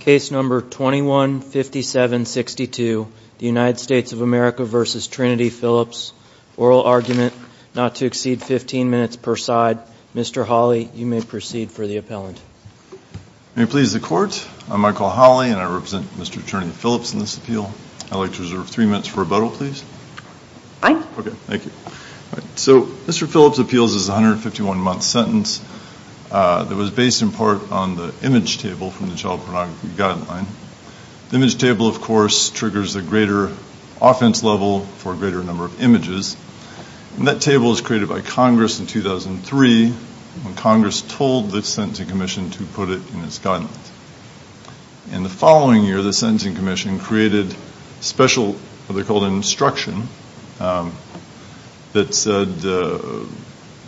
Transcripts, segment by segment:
case number 21 57 62 the United States of America versus Trinity Phillips oral argument not to exceed 15 minutes per side mr. Hawley you may proceed for the appellant may please the court I'm Michael Hawley and I represent mr. attorney Phillips in this appeal I like to reserve three minutes for rebuttal please okay thank you so mr. Phillips appeals is 151 month sentence that was based in part on the image table from the child pornography guideline the image table of course triggers a greater offense level for a greater number of images and that table is created by Congress in 2003 when Congress told the Sentencing Commission to put it in its guidelines in the following year the Sentencing Commission created special they're called instruction that said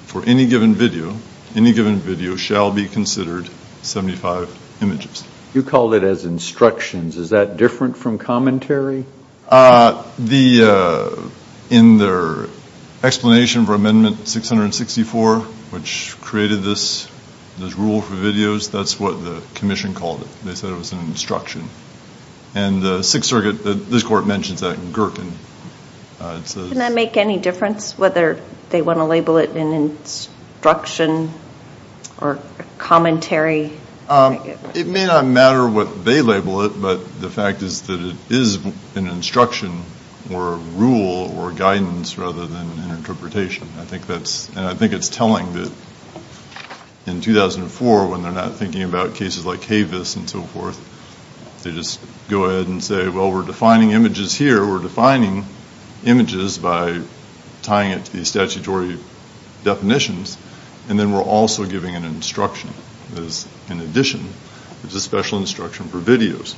for any given video any given video shall be considered 75 images you call it as instructions is that different from commentary the in their explanation for amendment 664 which created this there's rule for videos that's what the Commission called it they said it was an instruction and the Sixth Circuit that this court mentions that in Gherkin and I make any difference whether they want to label it in instruction or commentary it may not matter what they label it but the fact is that it is an instruction or rule or guidance rather than an interpretation I think that's and I think it's telling that in 2004 when they're not thinking about cases like Havis and so forth they just go ahead and say well we're defining images here we're defining images by tying it the statutory definitions and then we're also giving an instruction is in addition it's a special instruction for videos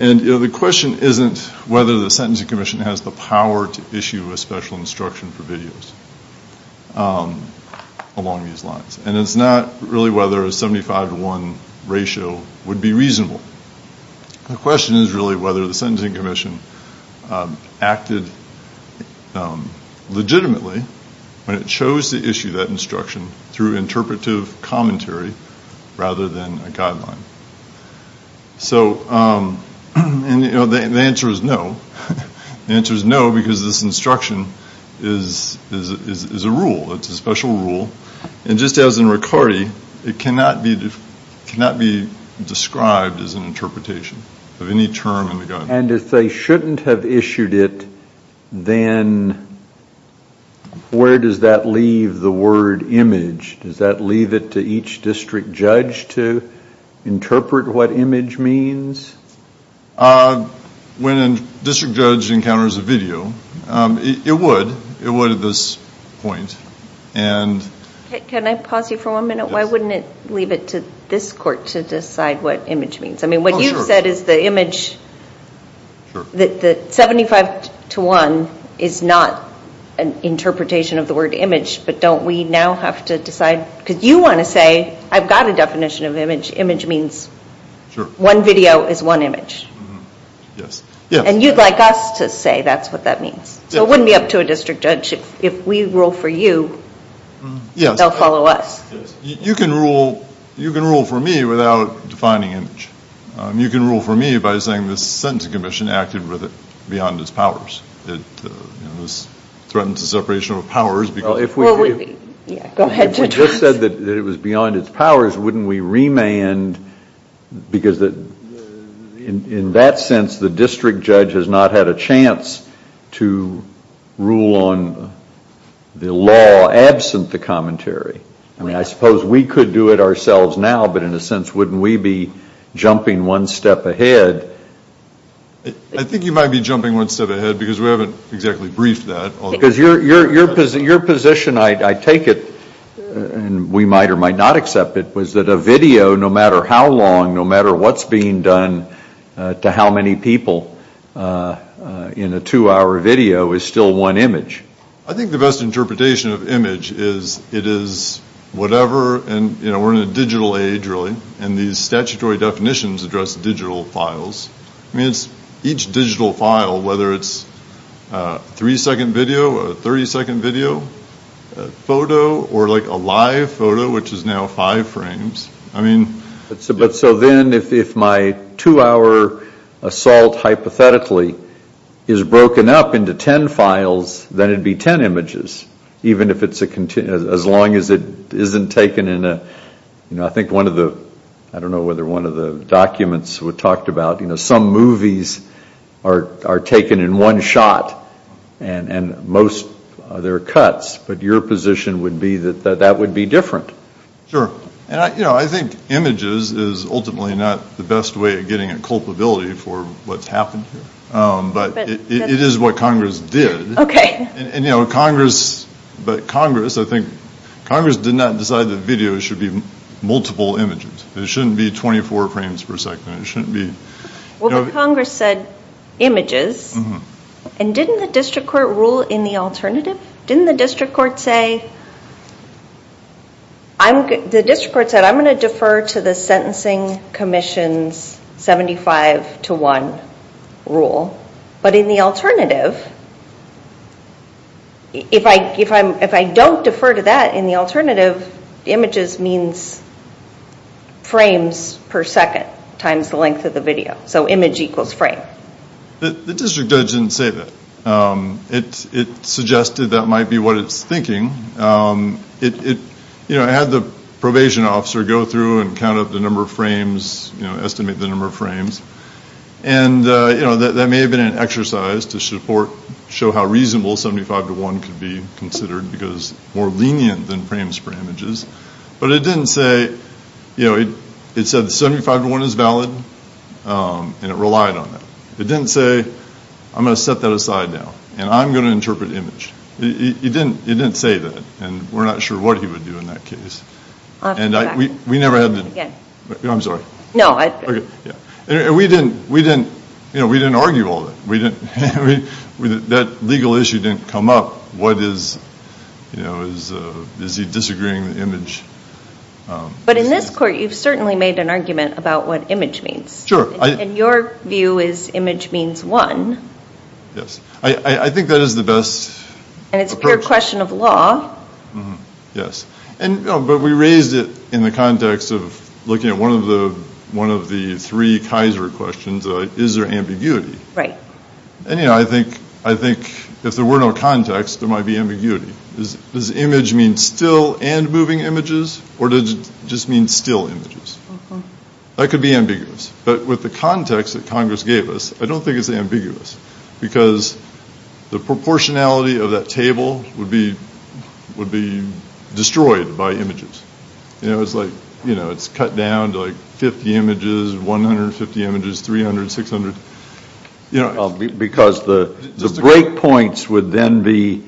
and the question isn't whether the Sentencing Commission has the power to issue a special instruction for videos along these lines and it's not really whether a 75 to 1 ratio would be reasonable the question is really whether the Sentencing Commission acted legitimately when it chose to issue that instruction through interpretive commentary rather than a guideline so and you know the answer is no the answer is no because this instruction is is a rule it's a special rule and just as in Riccardi it cannot be cannot be described as an interpretation of any term and if they shouldn't have issued it then where does that leave the word image does that leave it to each district judge to interpret what image means when a district judge encounters a video it would it would at this point and can I pause you for a minute why wouldn't it leave it to this court to that the 75 to 1 is not an interpretation of the word image but don't we now have to decide because you want to say I've got a definition of image image means one video is one image yes yeah and you'd like us to say that's what that means so it wouldn't be up to a district judge if we rule for you yes they'll follow us you can rule you can rule for me without defining image you can rule for me by saying this sentence Commission acted with it beyond its powers it was threatened to separation of powers because if we just said that it was beyond its powers wouldn't we remand because that in that sense the district judge has not had a chance to rule on the law absent the commentary I mean I suppose we could do it ourselves now but in a sense wouldn't we be jumping one step ahead I think you might be jumping one step ahead because we haven't exactly briefed that because your your position your position I take it and we might or might not accept it was that a video no matter how long no matter what's being done to how many people in a two-hour video is still one image I think the best interpretation of image is it is whatever and you know we're in a digital age really and these statutory definitions address digital files means each digital file whether it's three second video 30 second video photo or like a live photo which is now five frames I mean it's about so then if my two-hour assault hypothetically is broken up into ten files that'd be ten images even if it's a continuous as long as it isn't taken in a you know I think one of the I don't know whether one of the documents were talked about you know some movies are are taken in one shot and and most their cuts but your position would be that that would be different sure and I you know I think images is ultimately not the best way of getting a culpability for what's happened but it is what Congress did okay and you know Congress but Congress I think Congress did not decide the video should be multiple images there shouldn't be 24 frames per second it shouldn't be well Congress said images and didn't the district court rule in the alternative didn't the district court say I'm the district court said I'm going to defer to the sentencing Commission's 75 to 1 rule but in the if I if I'm if I don't defer to that in the alternative images means frames per second times the length of the video so image equals frame the district judge didn't say that it suggested that might be what it's thinking it you know I had the probation officer go through and count up the number of frames you know estimate the number of frames and you know that may have been an exercise to support show how reasonable 75 to 1 could be considered because more lenient than frames per images but it didn't say you know it it said 75 to 1 is valid and it relied on that it didn't say I'm gonna set that aside now and I'm gonna interpret image he didn't it didn't say that and we're not sure what he would do in that case and I we never had I'm sorry no I we didn't we didn't you know we didn't argue all that we didn't that legal issue didn't come up what is you know is is he disagreeing the image but in this court you've certainly made an argument about what image means sure I and your view is image means one yes I think that is the best and it's a pure question of law yes and but we raised it in the context of looking at one of the one of the three Kaiser questions is there ambiguity right and you know I think I think if there were no context there might be ambiguity is this image means still and moving images or did it just mean still images that could be ambiguous but with the context that Congress gave us I don't think it's ambiguous because the proportionality of that table would be would be destroyed by images you know it's like you know it's cut down to like 50 images 150 images 300 600 you know because the breakpoints would then be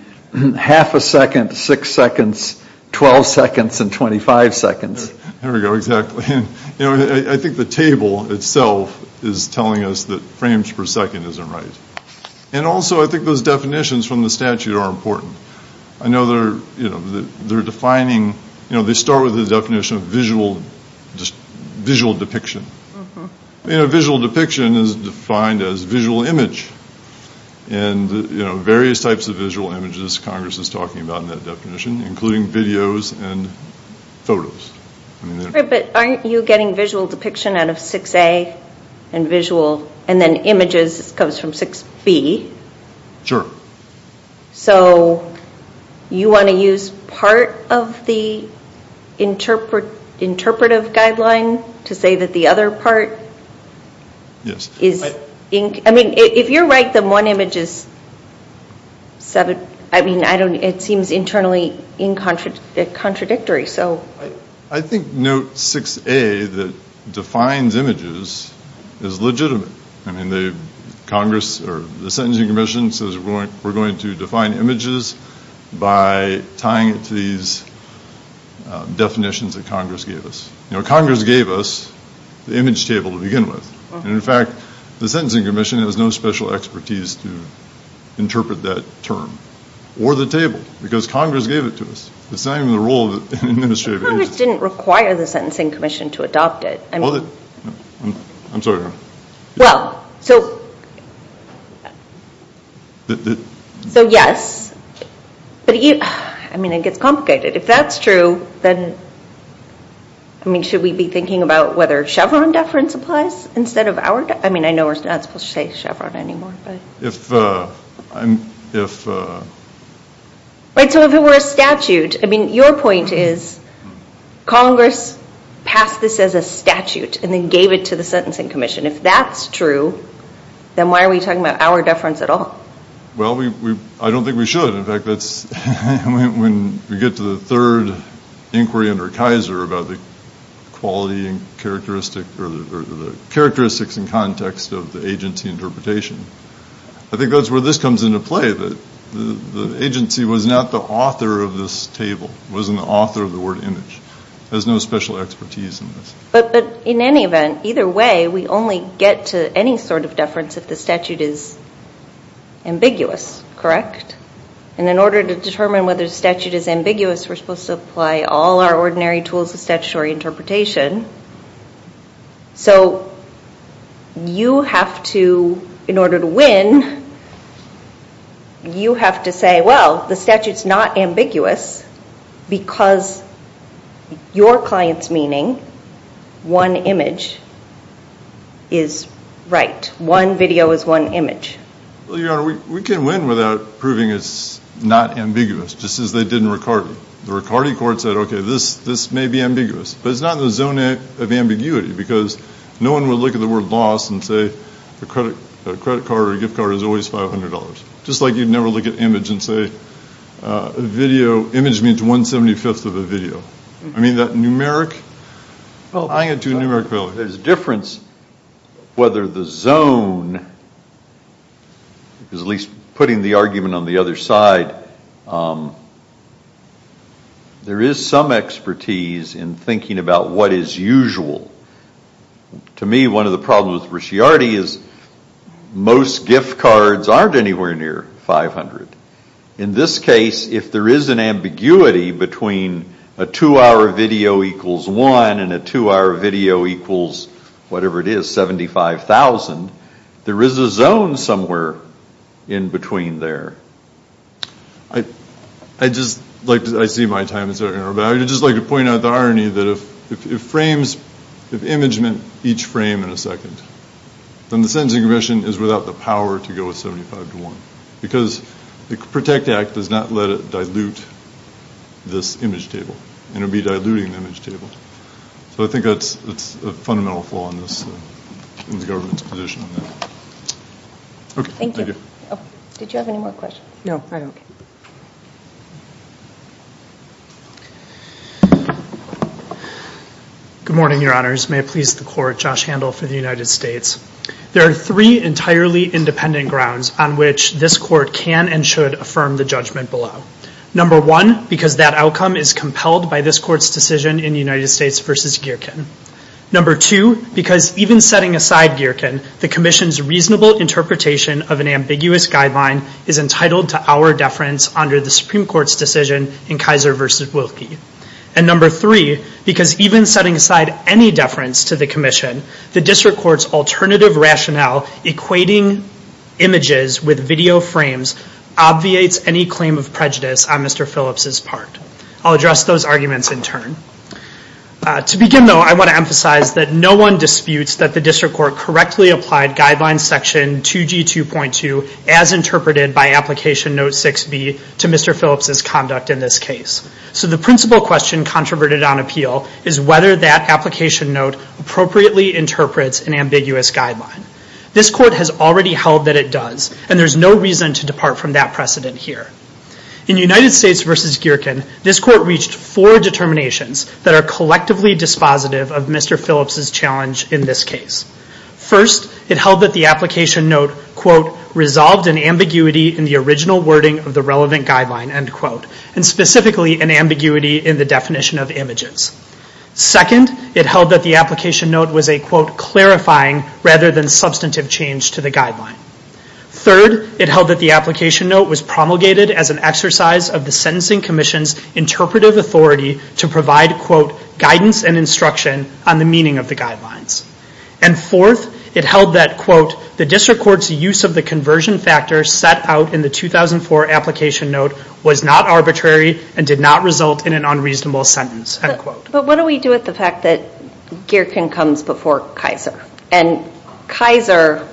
half a second six seconds 12 seconds and 25 seconds there we go exactly you know I think the table itself is telling us that frames per second isn't right and also I think those definitions from the statute are important I know they're you know they're defining you know they start with the definition of visual just visual depiction you know visual depiction is defined as visual image and you know various types of visual images Congress is talking about in that definition including videos and photos but aren't you getting visual depiction out of 6a and visual and then images comes from 6b sure so you want to use part of the interpret interpretive guideline to say that the other part yes is ink I mean if you're right than one image is seven I mean I don't it seems internally in contrast contradictory so I think note 6a that defines images is legitimate I mean they Congress or the Sentencing Commission says we're going to define images by tying it to these definitions that Congress gave us you know Congress gave us the image table to begin with and in fact the Sentencing Commission has no special expertise to interpret that term or the table because Congress gave it to us it's not even the Congress didn't require the Sentencing Commission to adopt it I'm sorry well so so yes but you I mean it gets complicated if that's true then I mean should we be thinking about whether Chevron deference applies instead of our I mean I know we're not supposed to say Chevron anymore but if I'm if right so if it were a point is Congress passed this as a statute and then gave it to the Sentencing Commission if that's true then why are we talking about our deference at all well we I don't think we should in fact that's when we get to the third inquiry under Kaiser about the quality and characteristic or the characteristics in context of the agency interpretation I think that's where this table was an author of the word image there's no special expertise in this but but in any event either way we only get to any sort of deference if the statute is ambiguous correct and in order to determine whether the statute is ambiguous we're supposed to apply all our ordinary tools of statutory interpretation so you have to in order to win you have to say well the statute's not ambiguous because your clients meaning one image is right one video is one image we can win without proving it's not ambiguous just as they did in Ricardi the Ricardi court said okay this this may be ambiguous but it's not in the zone of ambiguity because no one would look at the word loss and say the credit credit card or gift card is always $500 just like you'd never look at image and say video image means 175th of a video I mean that numeric well I had to numerically there's a difference whether the zone is at least putting the argument on the other side there is some expertise in thinking about what is usual to me one of the problems Ricciardi is most gift cards aren't anywhere near 500 in this case if there is an ambiguity between a two-hour video equals one and a two-hour video equals whatever it is 75,000 there is a zone somewhere in between there I I just like to I see my time is there but I just like to point out the irony that if it frames if image meant each frame in a because the Protect Act does not let it dilute this image table and it'd be diluting the image table so I think that's it's a fundamental flaw in this in the government's position okay thank you did you have any more questions no good morning your honors may it please the court Josh Handel for the United States there are three entirely independent grounds on which this court can and should affirm the judgment below number one because that outcome is compelled by this court's decision in United States vs. Geerken number two because even setting aside Geerken the Commission's reasonable interpretation of an ambiguous guideline is entitled to our deference under the Supreme Court's decision in Kaiser vs. Wilkie and number three because even setting aside any deference to the Commission the district courts alternative rationale equating images with video frames obviates any claim of prejudice on Mr. Phillips's part I'll address those arguments in turn to begin though I want to emphasize that no one disputes that the district court correctly applied guidelines section 2g 2.2 as interpreted by application note 6b to Mr. Phillips's conduct in this case so the principal question controverted on appeal is whether that application note appropriately interprets an ambiguous guideline this court has already held that it does and there's no reason to depart from that precedent here in United States vs. Geerken this court reached for determinations that are collectively dispositive of Mr. Phillips's challenge in this case first it held that the application note quote resolved an ambiguity in the original wording of the relevant guideline end quote and second it held that the application note was a quote clarifying rather than substantive change to the guideline third it held that the application note was promulgated as an exercise of the sentencing Commission's interpretive authority to provide quote guidance and instruction on the meaning of the guidelines and fourth it held that quote the district court's use of the conversion factor set out in the 2004 application note was not arbitrary and did not result in an unreasonable sentence but what do we do with the fact that Geerken comes before Kaiser and Kaiser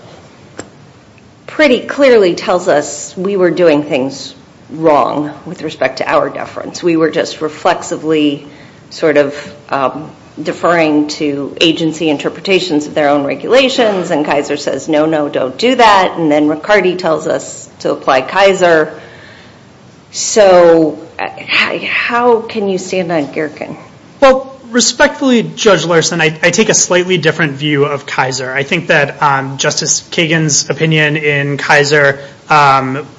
pretty clearly tells us we were doing things wrong with respect to our deference we were just reflexively sort of deferring to agency interpretations of their own regulations and Kaiser says no no don't do that and then Riccardi tells us to apply Kaiser so how can you stand on Geerken? Well respectfully Judge Larson I take a slightly different view of Kaiser I think that Justice Kagan's opinion in Kaiser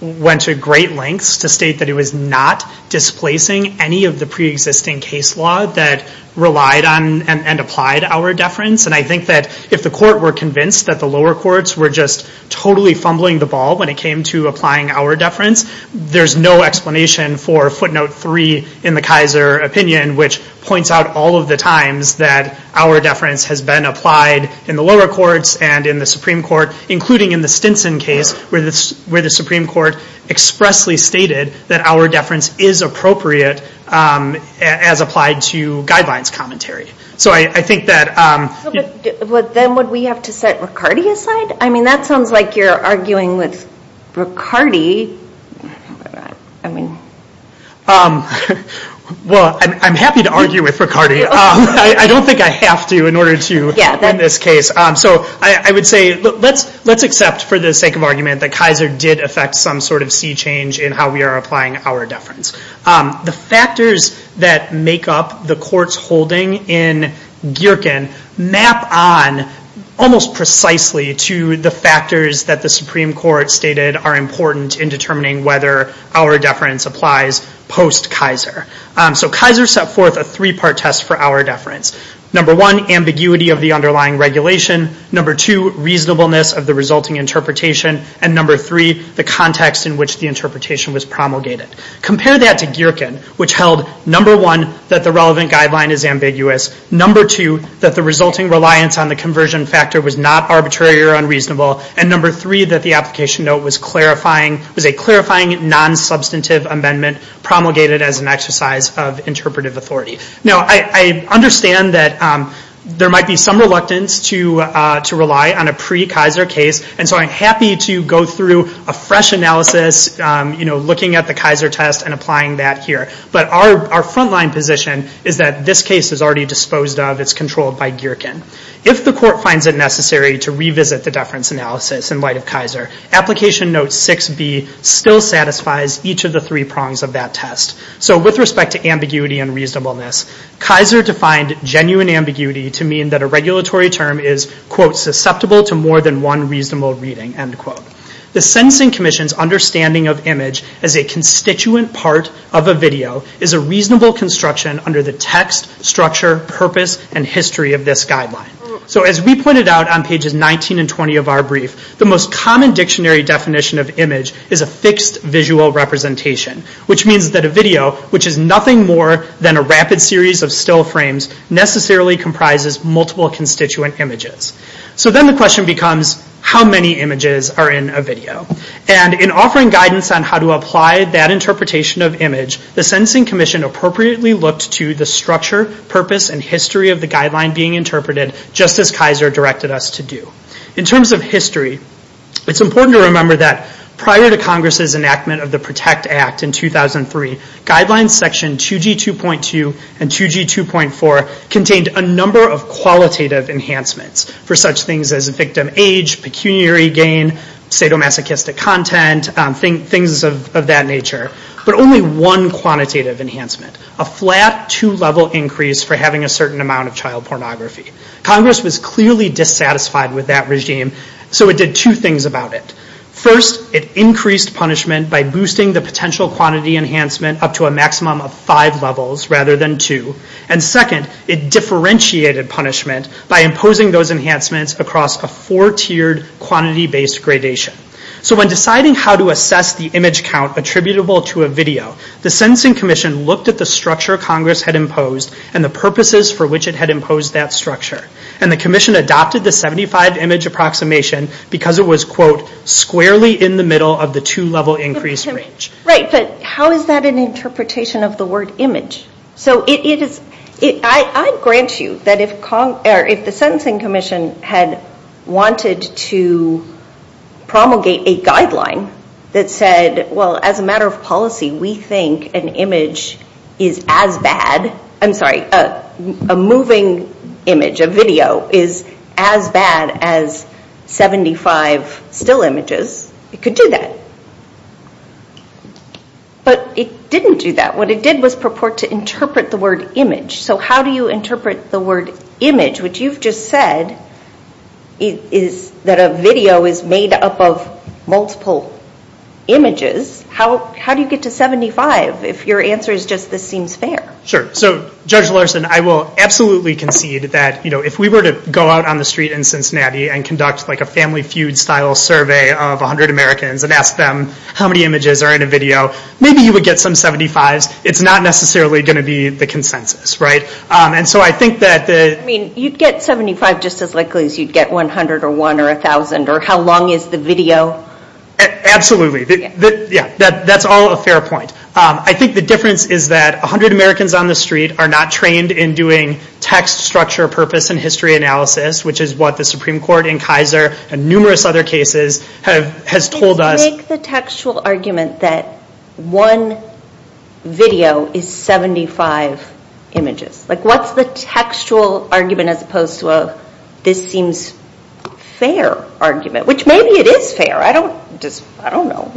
went to great lengths to state that it was not displacing any of the pre-existing case law that relied on and applied our deference and I think that if the court were convinced that the lower courts were just totally fumbling the ball when it came to applying our deference there's no explanation for footnote three in the Kaiser opinion which points out all of the times that our deference has been applied in the lower courts and in the Supreme Court including in the Stinson case where this where the Supreme Court expressly stated that our deference is appropriate as applied to guidelines commentary so I think that what then would we have to set Riccardi aside? I mean that sounds like you're arguing with Riccardi. Well I'm happy to argue with Riccardi I don't think I have to in order to in this case so I would say let's let's accept for the sake of argument that Kaiser did affect some sort of sea change in how we are applying our deference. The factors that make up the court's holding in Geerken map on almost precisely to the factors that the Supreme Court stated are important in determining whether our deference applies post Kaiser. So Kaiser set forth a three-part test for our deference. Number one ambiguity of the underlying regulation, number two reasonableness of the resulting interpretation, and number three the context in which the interpretation was promulgated. Compare that to Geerken which held number one that the relevant resulting reliance on the conversion factor was not arbitrary or unreasonable and number three that the application note was clarifying was a clarifying non-substantive amendment promulgated as an exercise of interpretive authority. Now I understand that there might be some reluctance to to rely on a pre Kaiser case and so I'm happy to go through a fresh analysis you know looking at the Kaiser test and applying that here but our frontline position is that this case is already disposed of, it's controlled by Geerken. If the court finds it necessary to revisit the deference analysis in light of Kaiser, application note 6b still satisfies each of the three prongs of that test. So with respect to ambiguity and reasonableness, Kaiser defined genuine ambiguity to mean that a regulatory term is quote susceptible to more than one reasonable reading end quote. The Sentencing Commission's understanding of image as a constituent part of a video is a reasonable construction under the text structure purpose and history of this guideline. So as we pointed out on pages 19 and 20 of our brief the most common dictionary definition of image is a fixed visual representation which means that a video which is nothing more than a rapid series of still frames necessarily comprises multiple constituent images. So then the question becomes how many images are in a video and in offering guidance on how to apply that interpretation of image the structure, purpose, and history of the guideline being interpreted just as Kaiser directed us to do. In terms of history it's important to remember that prior to Congress's enactment of the PROTECT Act in 2003 guidelines section 2g 2.2 and 2g 2.4 contained a number of qualitative enhancements for such things as a victim age, pecuniary gain, sadomasochistic content, things of that nature, but only one quantitative enhancement a flat two-level increase for having a certain amount of child pornography. Congress was clearly dissatisfied with that regime so it did two things about it. First it increased punishment by boosting the potential quantity enhancement up to a maximum of five levels rather than two and second it differentiated punishment by imposing those enhancements across a four-tiered quantity based gradation. So when attributable to a video the Sentencing Commission looked at the structure Congress had imposed and the purposes for which it had imposed that structure and the Commission adopted the 75 image approximation because it was quote squarely in the middle of the two-level increase range. Right but how is that an interpretation of the word image? So it is I grant you that if the Sentencing Commission had wanted to promulgate a guideline that said well as a matter of policy we think an image is as bad, I'm sorry a moving image, a video is as bad as 75 still images, it could do that. But it didn't do that. What it did was purport to interpret the word image. So how do you interpret the word get to 75 if your answer is just this seems fair? Sure so Judge Larson I will absolutely concede that you know if we were to go out on the street in Cincinnati and conduct like a family feud style survey of a hundred Americans and ask them how many images are in a video maybe you would get some 75s it's not necessarily going to be the consensus right and so I think that the I mean you'd get 75 just as likely as you'd get 100 or 1 or a thousand or how long is the video? Absolutely yeah that's all a fair point. I think the difference is that a hundred Americans on the street are not trained in doing text structure purpose and history analysis which is what the Supreme Court in Kaiser and numerous other cases have has told us. Make the textual argument that one video is 75 images like what's the textual argument as opposed to a this seems fair argument which maybe it is fair I don't just I don't know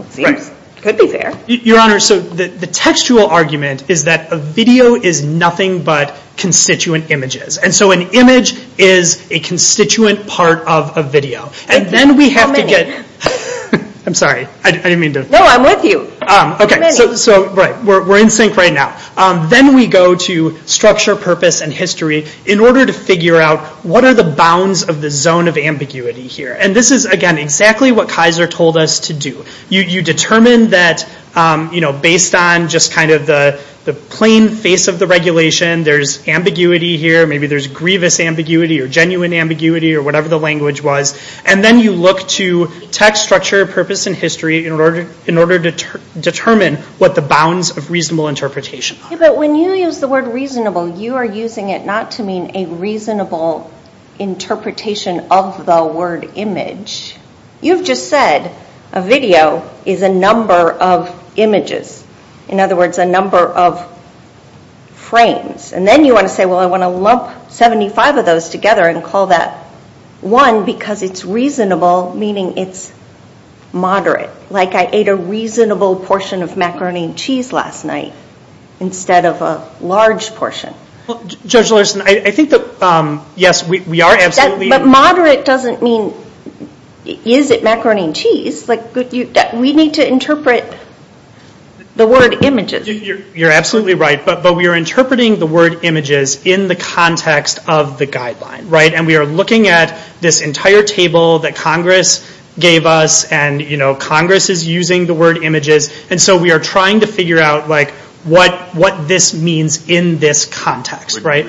could be fair. Your Honor so the textual argument is that a video is nothing but constituent images and so an image is a constituent part of a video and then we have to get I'm sorry I didn't mean to. No I'm with you. Okay so right we're in sync right now then we go to structure purpose and history in order to figure out what are the bounds of the zone of ambiguity here and this is again exactly what Kaiser told us to do. You determine that you know based on just kind of the the plain face of the regulation there's ambiguity here maybe there's grievous ambiguity or genuine ambiguity or whatever the language was and then you look to text structure purpose and history in order in order to determine what the bounds of reasonable interpretation. But when you use the word reasonable you are using it not to mean a reasonable interpretation of the word image. You've just said a video is a number of images in other words a number of frames and then you want to say well I want to lump 75 of those together and call that one because it's reasonable meaning it's moderate like I ate a portion. Judge Larson I think that yes we are absolutely. But moderate doesn't mean is it macaroni and cheese like we need to interpret the word images. You're absolutely right but but we are interpreting the word images in the context of the guideline right and we are looking at this entire table that Congress gave us and you know Congress is using the word images and so we are interpreting it in this context right.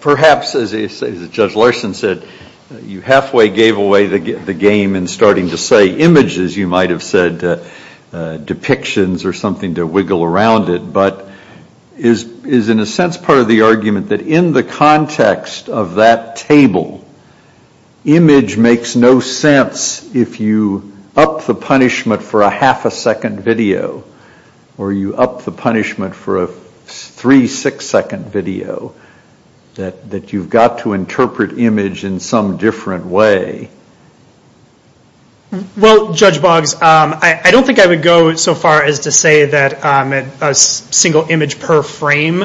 Perhaps as Judge Larson said you halfway gave away the game in starting to say images you might have said depictions or something to wiggle around it but is is in a sense part of the argument that in the context of that table image makes no sense if you up the punishment for a 3-6 second video that that you've got to interpret image in some different way. Well Judge Boggs I don't think I would go so far as to say that a single image per frame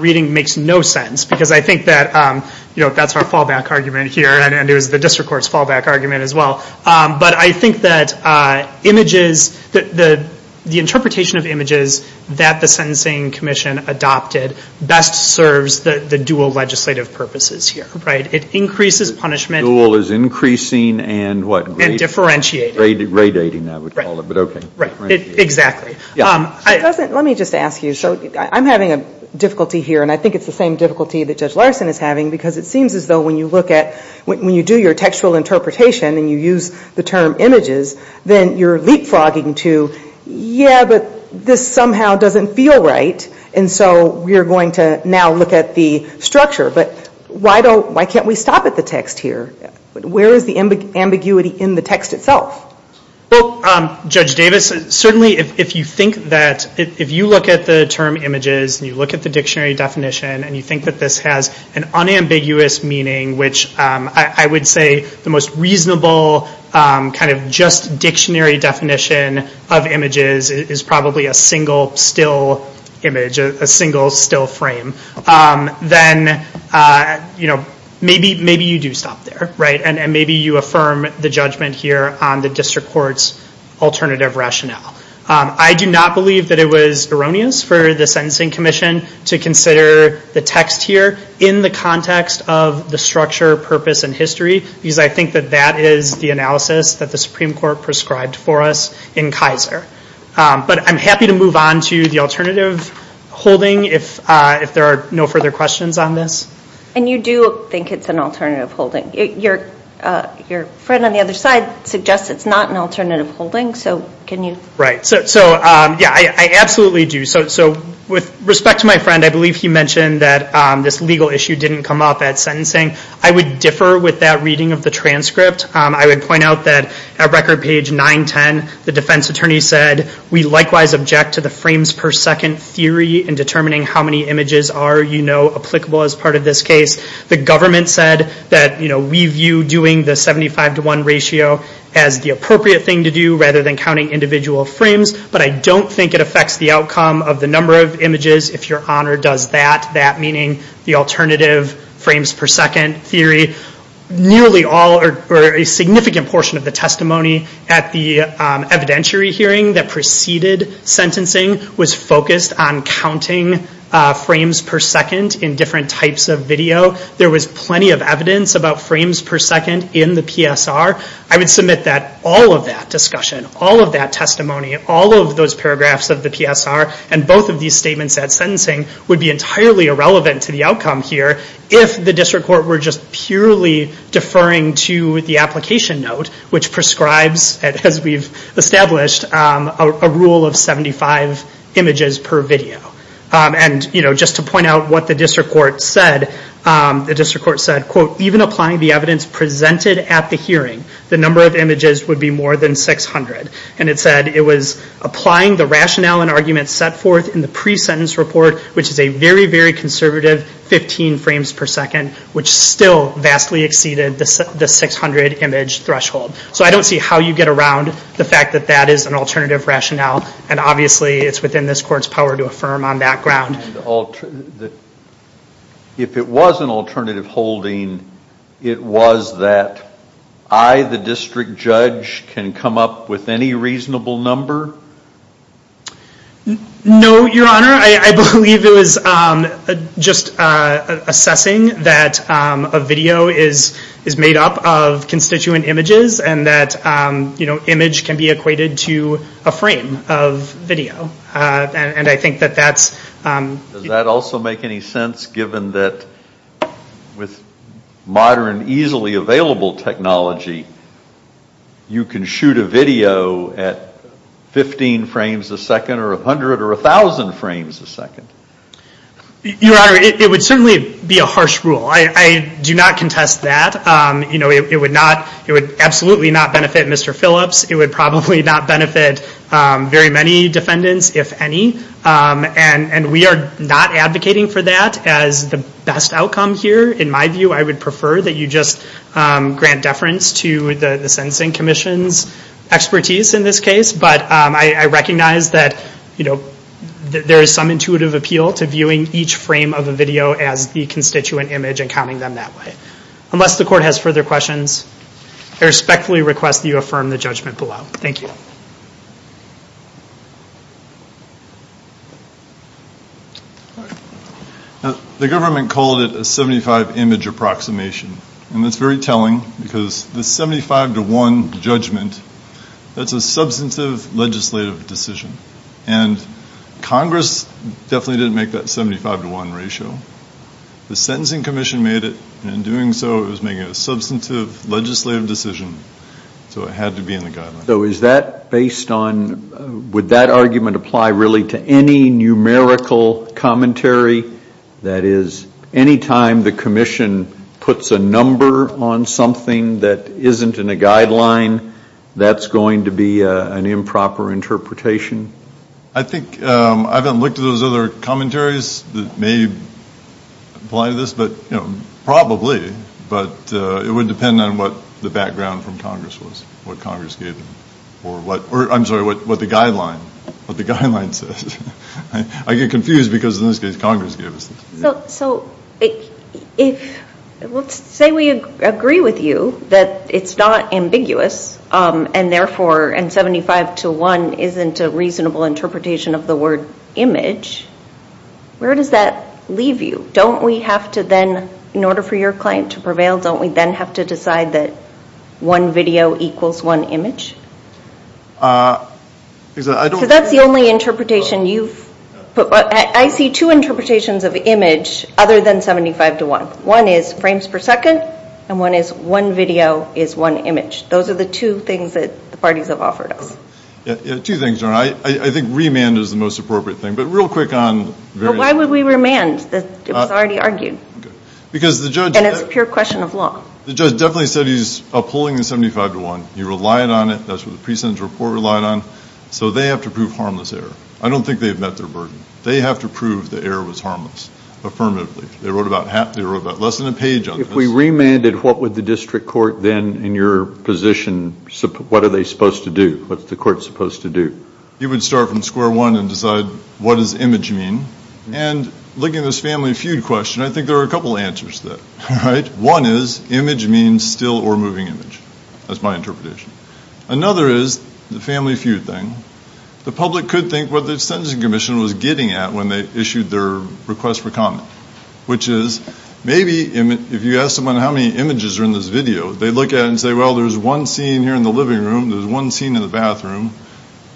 reading makes no sense because I think that you know that's our fallback argument here and it was the district courts fallback argument as well but I think that images that the the interpretation of images that the Sentencing Commission adopted best serves the dual legislative purposes here right. It increases punishment. Dual is increasing and what? And differentiating. Radating I would call it but okay. Exactly. Let me just ask you so I'm having a difficulty here and I think it's the same difficulty that Judge Larson is having because it seems as though when you look at when you do your textual interpretation and you use the term images then you're leapfrogging to yeah but this somehow doesn't feel right and so we're going to now look at the structure but why don't why can't we stop at the text here but where is the ambiguity in the text itself? Well Judge Davis certainly if you think that if you look at the term images and you look at the dictionary definition and you think that this has an unambiguous meaning which I would say the most reasonable kind of just dictionary definition of images is probably a single still image a single still frame then you know maybe maybe you do stop there right and maybe you affirm the judgment here on the district courts alternative rationale. I do not believe that it was erroneous for the Sentencing Commission to consider the text here in the context of the structure purpose and history because I think that that is the analysis that the Supreme Court prescribed for us in Kaiser but I'm happy to move on to the alternative holding if if there are no further questions on this. And you do think it's an alternative holding? Your your friend on the other side suggests it's not an alternative holding so can you? Right so yeah I absolutely do so so with respect to my friend I believe he mentioned that this legal issue didn't come up at sentencing I would differ with that reading of the transcript I would point out that at record page 910 the defense attorney said we likewise object to the frames per second theory in determining how many images are you know applicable as part of this case the government said that you know we view doing the 75 to 1 ratio as the appropriate thing to do rather than counting individual frames but I don't think it affects the outcome of the number of images if your honor does that meaning the alternative frames per second theory nearly all or a significant portion of the testimony at the evidentiary hearing that preceded sentencing was focused on counting frames per second in different types of video there was plenty of evidence about frames per second in the PSR I would submit that all of that discussion all of that testimony all of those paragraphs of the PSR and both of these statements at sentencing would be entirely irrelevant to the outcome here if the district court were just purely deferring to the application note which prescribes as we've established a rule of 75 images per video and you know just to point out what the district court said the district court said quote even applying the evidence presented at the hearing the number of images would be more than 600 and it said it was applying the rationale and arguments set forth in the pre-sentence report which is a very very conservative 15 frames per second which still vastly exceeded the 600 image threshold so I don't see how you get around the fact that that is an alternative rationale and obviously it's within this court's power to affirm on that ground. If it was an alternative holding it was that I the district is just assessing that a video is is made up of constituent images and that you know image can be equated to a frame of video and I think that that's does that also make any sense given that with modern easily available technology you can shoot a video at 15 frames a second or a hundred or a thousand frames a second. Your honor it would certainly be a harsh rule I do not contest that you know it would not it would absolutely not benefit Mr. Phillips it would probably not benefit very many defendants if any and and we are not advocating for that as the best outcome here in my view I would prefer that you just grant deference to the the Sentencing Commission's expertise in this case but I recognize that you know there is some intuitive appeal to viewing each frame of the video as the constituent image and counting them that way. Unless the court has further questions I respectfully request you affirm the judgment below. Thank you. Now the government called it a 75 image approximation and that's very telling because the 75 to 1 judgment that's a substantive legislative decision and Congress definitely didn't make that 75 to 1 ratio the Sentencing Commission made it and in doing so it was making a substantive legislative decision so it based on would that argument apply really to any numerical commentary that is anytime the Commission puts a number on something that isn't in a guideline that's going to be an improper interpretation? I think I haven't looked at those other commentaries that may apply to this but you know probably but it would depend on what the background from Congress was what Congress gave or what or I'm sorry what what the guideline what the guideline says I get confused because in this case Congress gave us. So if let's say we agree with you that it's not ambiguous and therefore and 75 to 1 isn't a reasonable interpretation of the word image where does that leave you? Don't we have to then in order for your claim to prevail don't we then have to decide that one That's the only interpretation you've put but I see two interpretations of image other than 75 to 1. One is frames per second and one is one video is one image those are the two things that the parties have offered us. Two things I think remand is the most appropriate thing but real quick on. Why would we remand? It was already argued. Because the judge. And it's a pure question of law. The precinct report relied on so they have to prove harmless error. I don't think they've met their burden. They have to prove the error was harmless affirmatively. They wrote about less than a page. If we remanded what would the district court then in your position what are they supposed to do? What's the court supposed to do? You would start from square one and decide what does image mean and looking at this family feud question I think there are a couple answers that right. One is image means still or moving image. That's my guess. The other is the family feud thing. The public could think what the sentencing commission was getting at when they issued their request for comment. Which is maybe if you ask someone how many images are in this video they look at and say well there's one scene here in the living room. There's one scene in the bathroom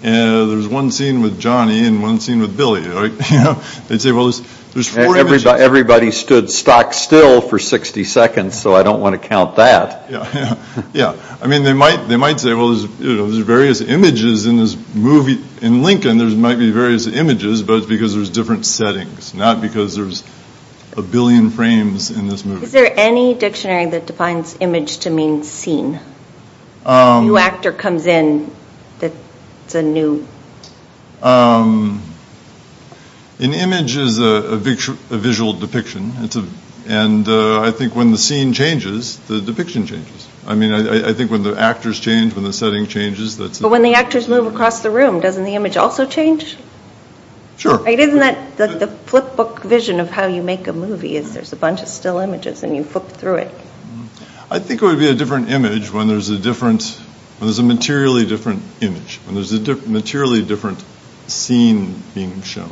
and there's one scene with Johnny and one scene with Billy. They say well there's four images. Everybody stood stock still for 60 seconds so I don't want to count that. Yeah I mean they might they might say there's various images in this movie. In Lincoln there's might be various images but it's because there's different settings not because there's a billion frames in this movie. Is there any dictionary that defines image to mean scene? A new actor comes in that's a new. An image is a visual depiction and I think when the scene changes the depiction changes. I mean I think when the setting changes. But when the actors move across the room doesn't the image also change? Sure. Isn't that the flipbook vision of how you make a movie is there's a bunch of still images and you flip through it. I think it would be a different image when there's a different, when there's a materially different image. When there's a materially different scene being shown. Not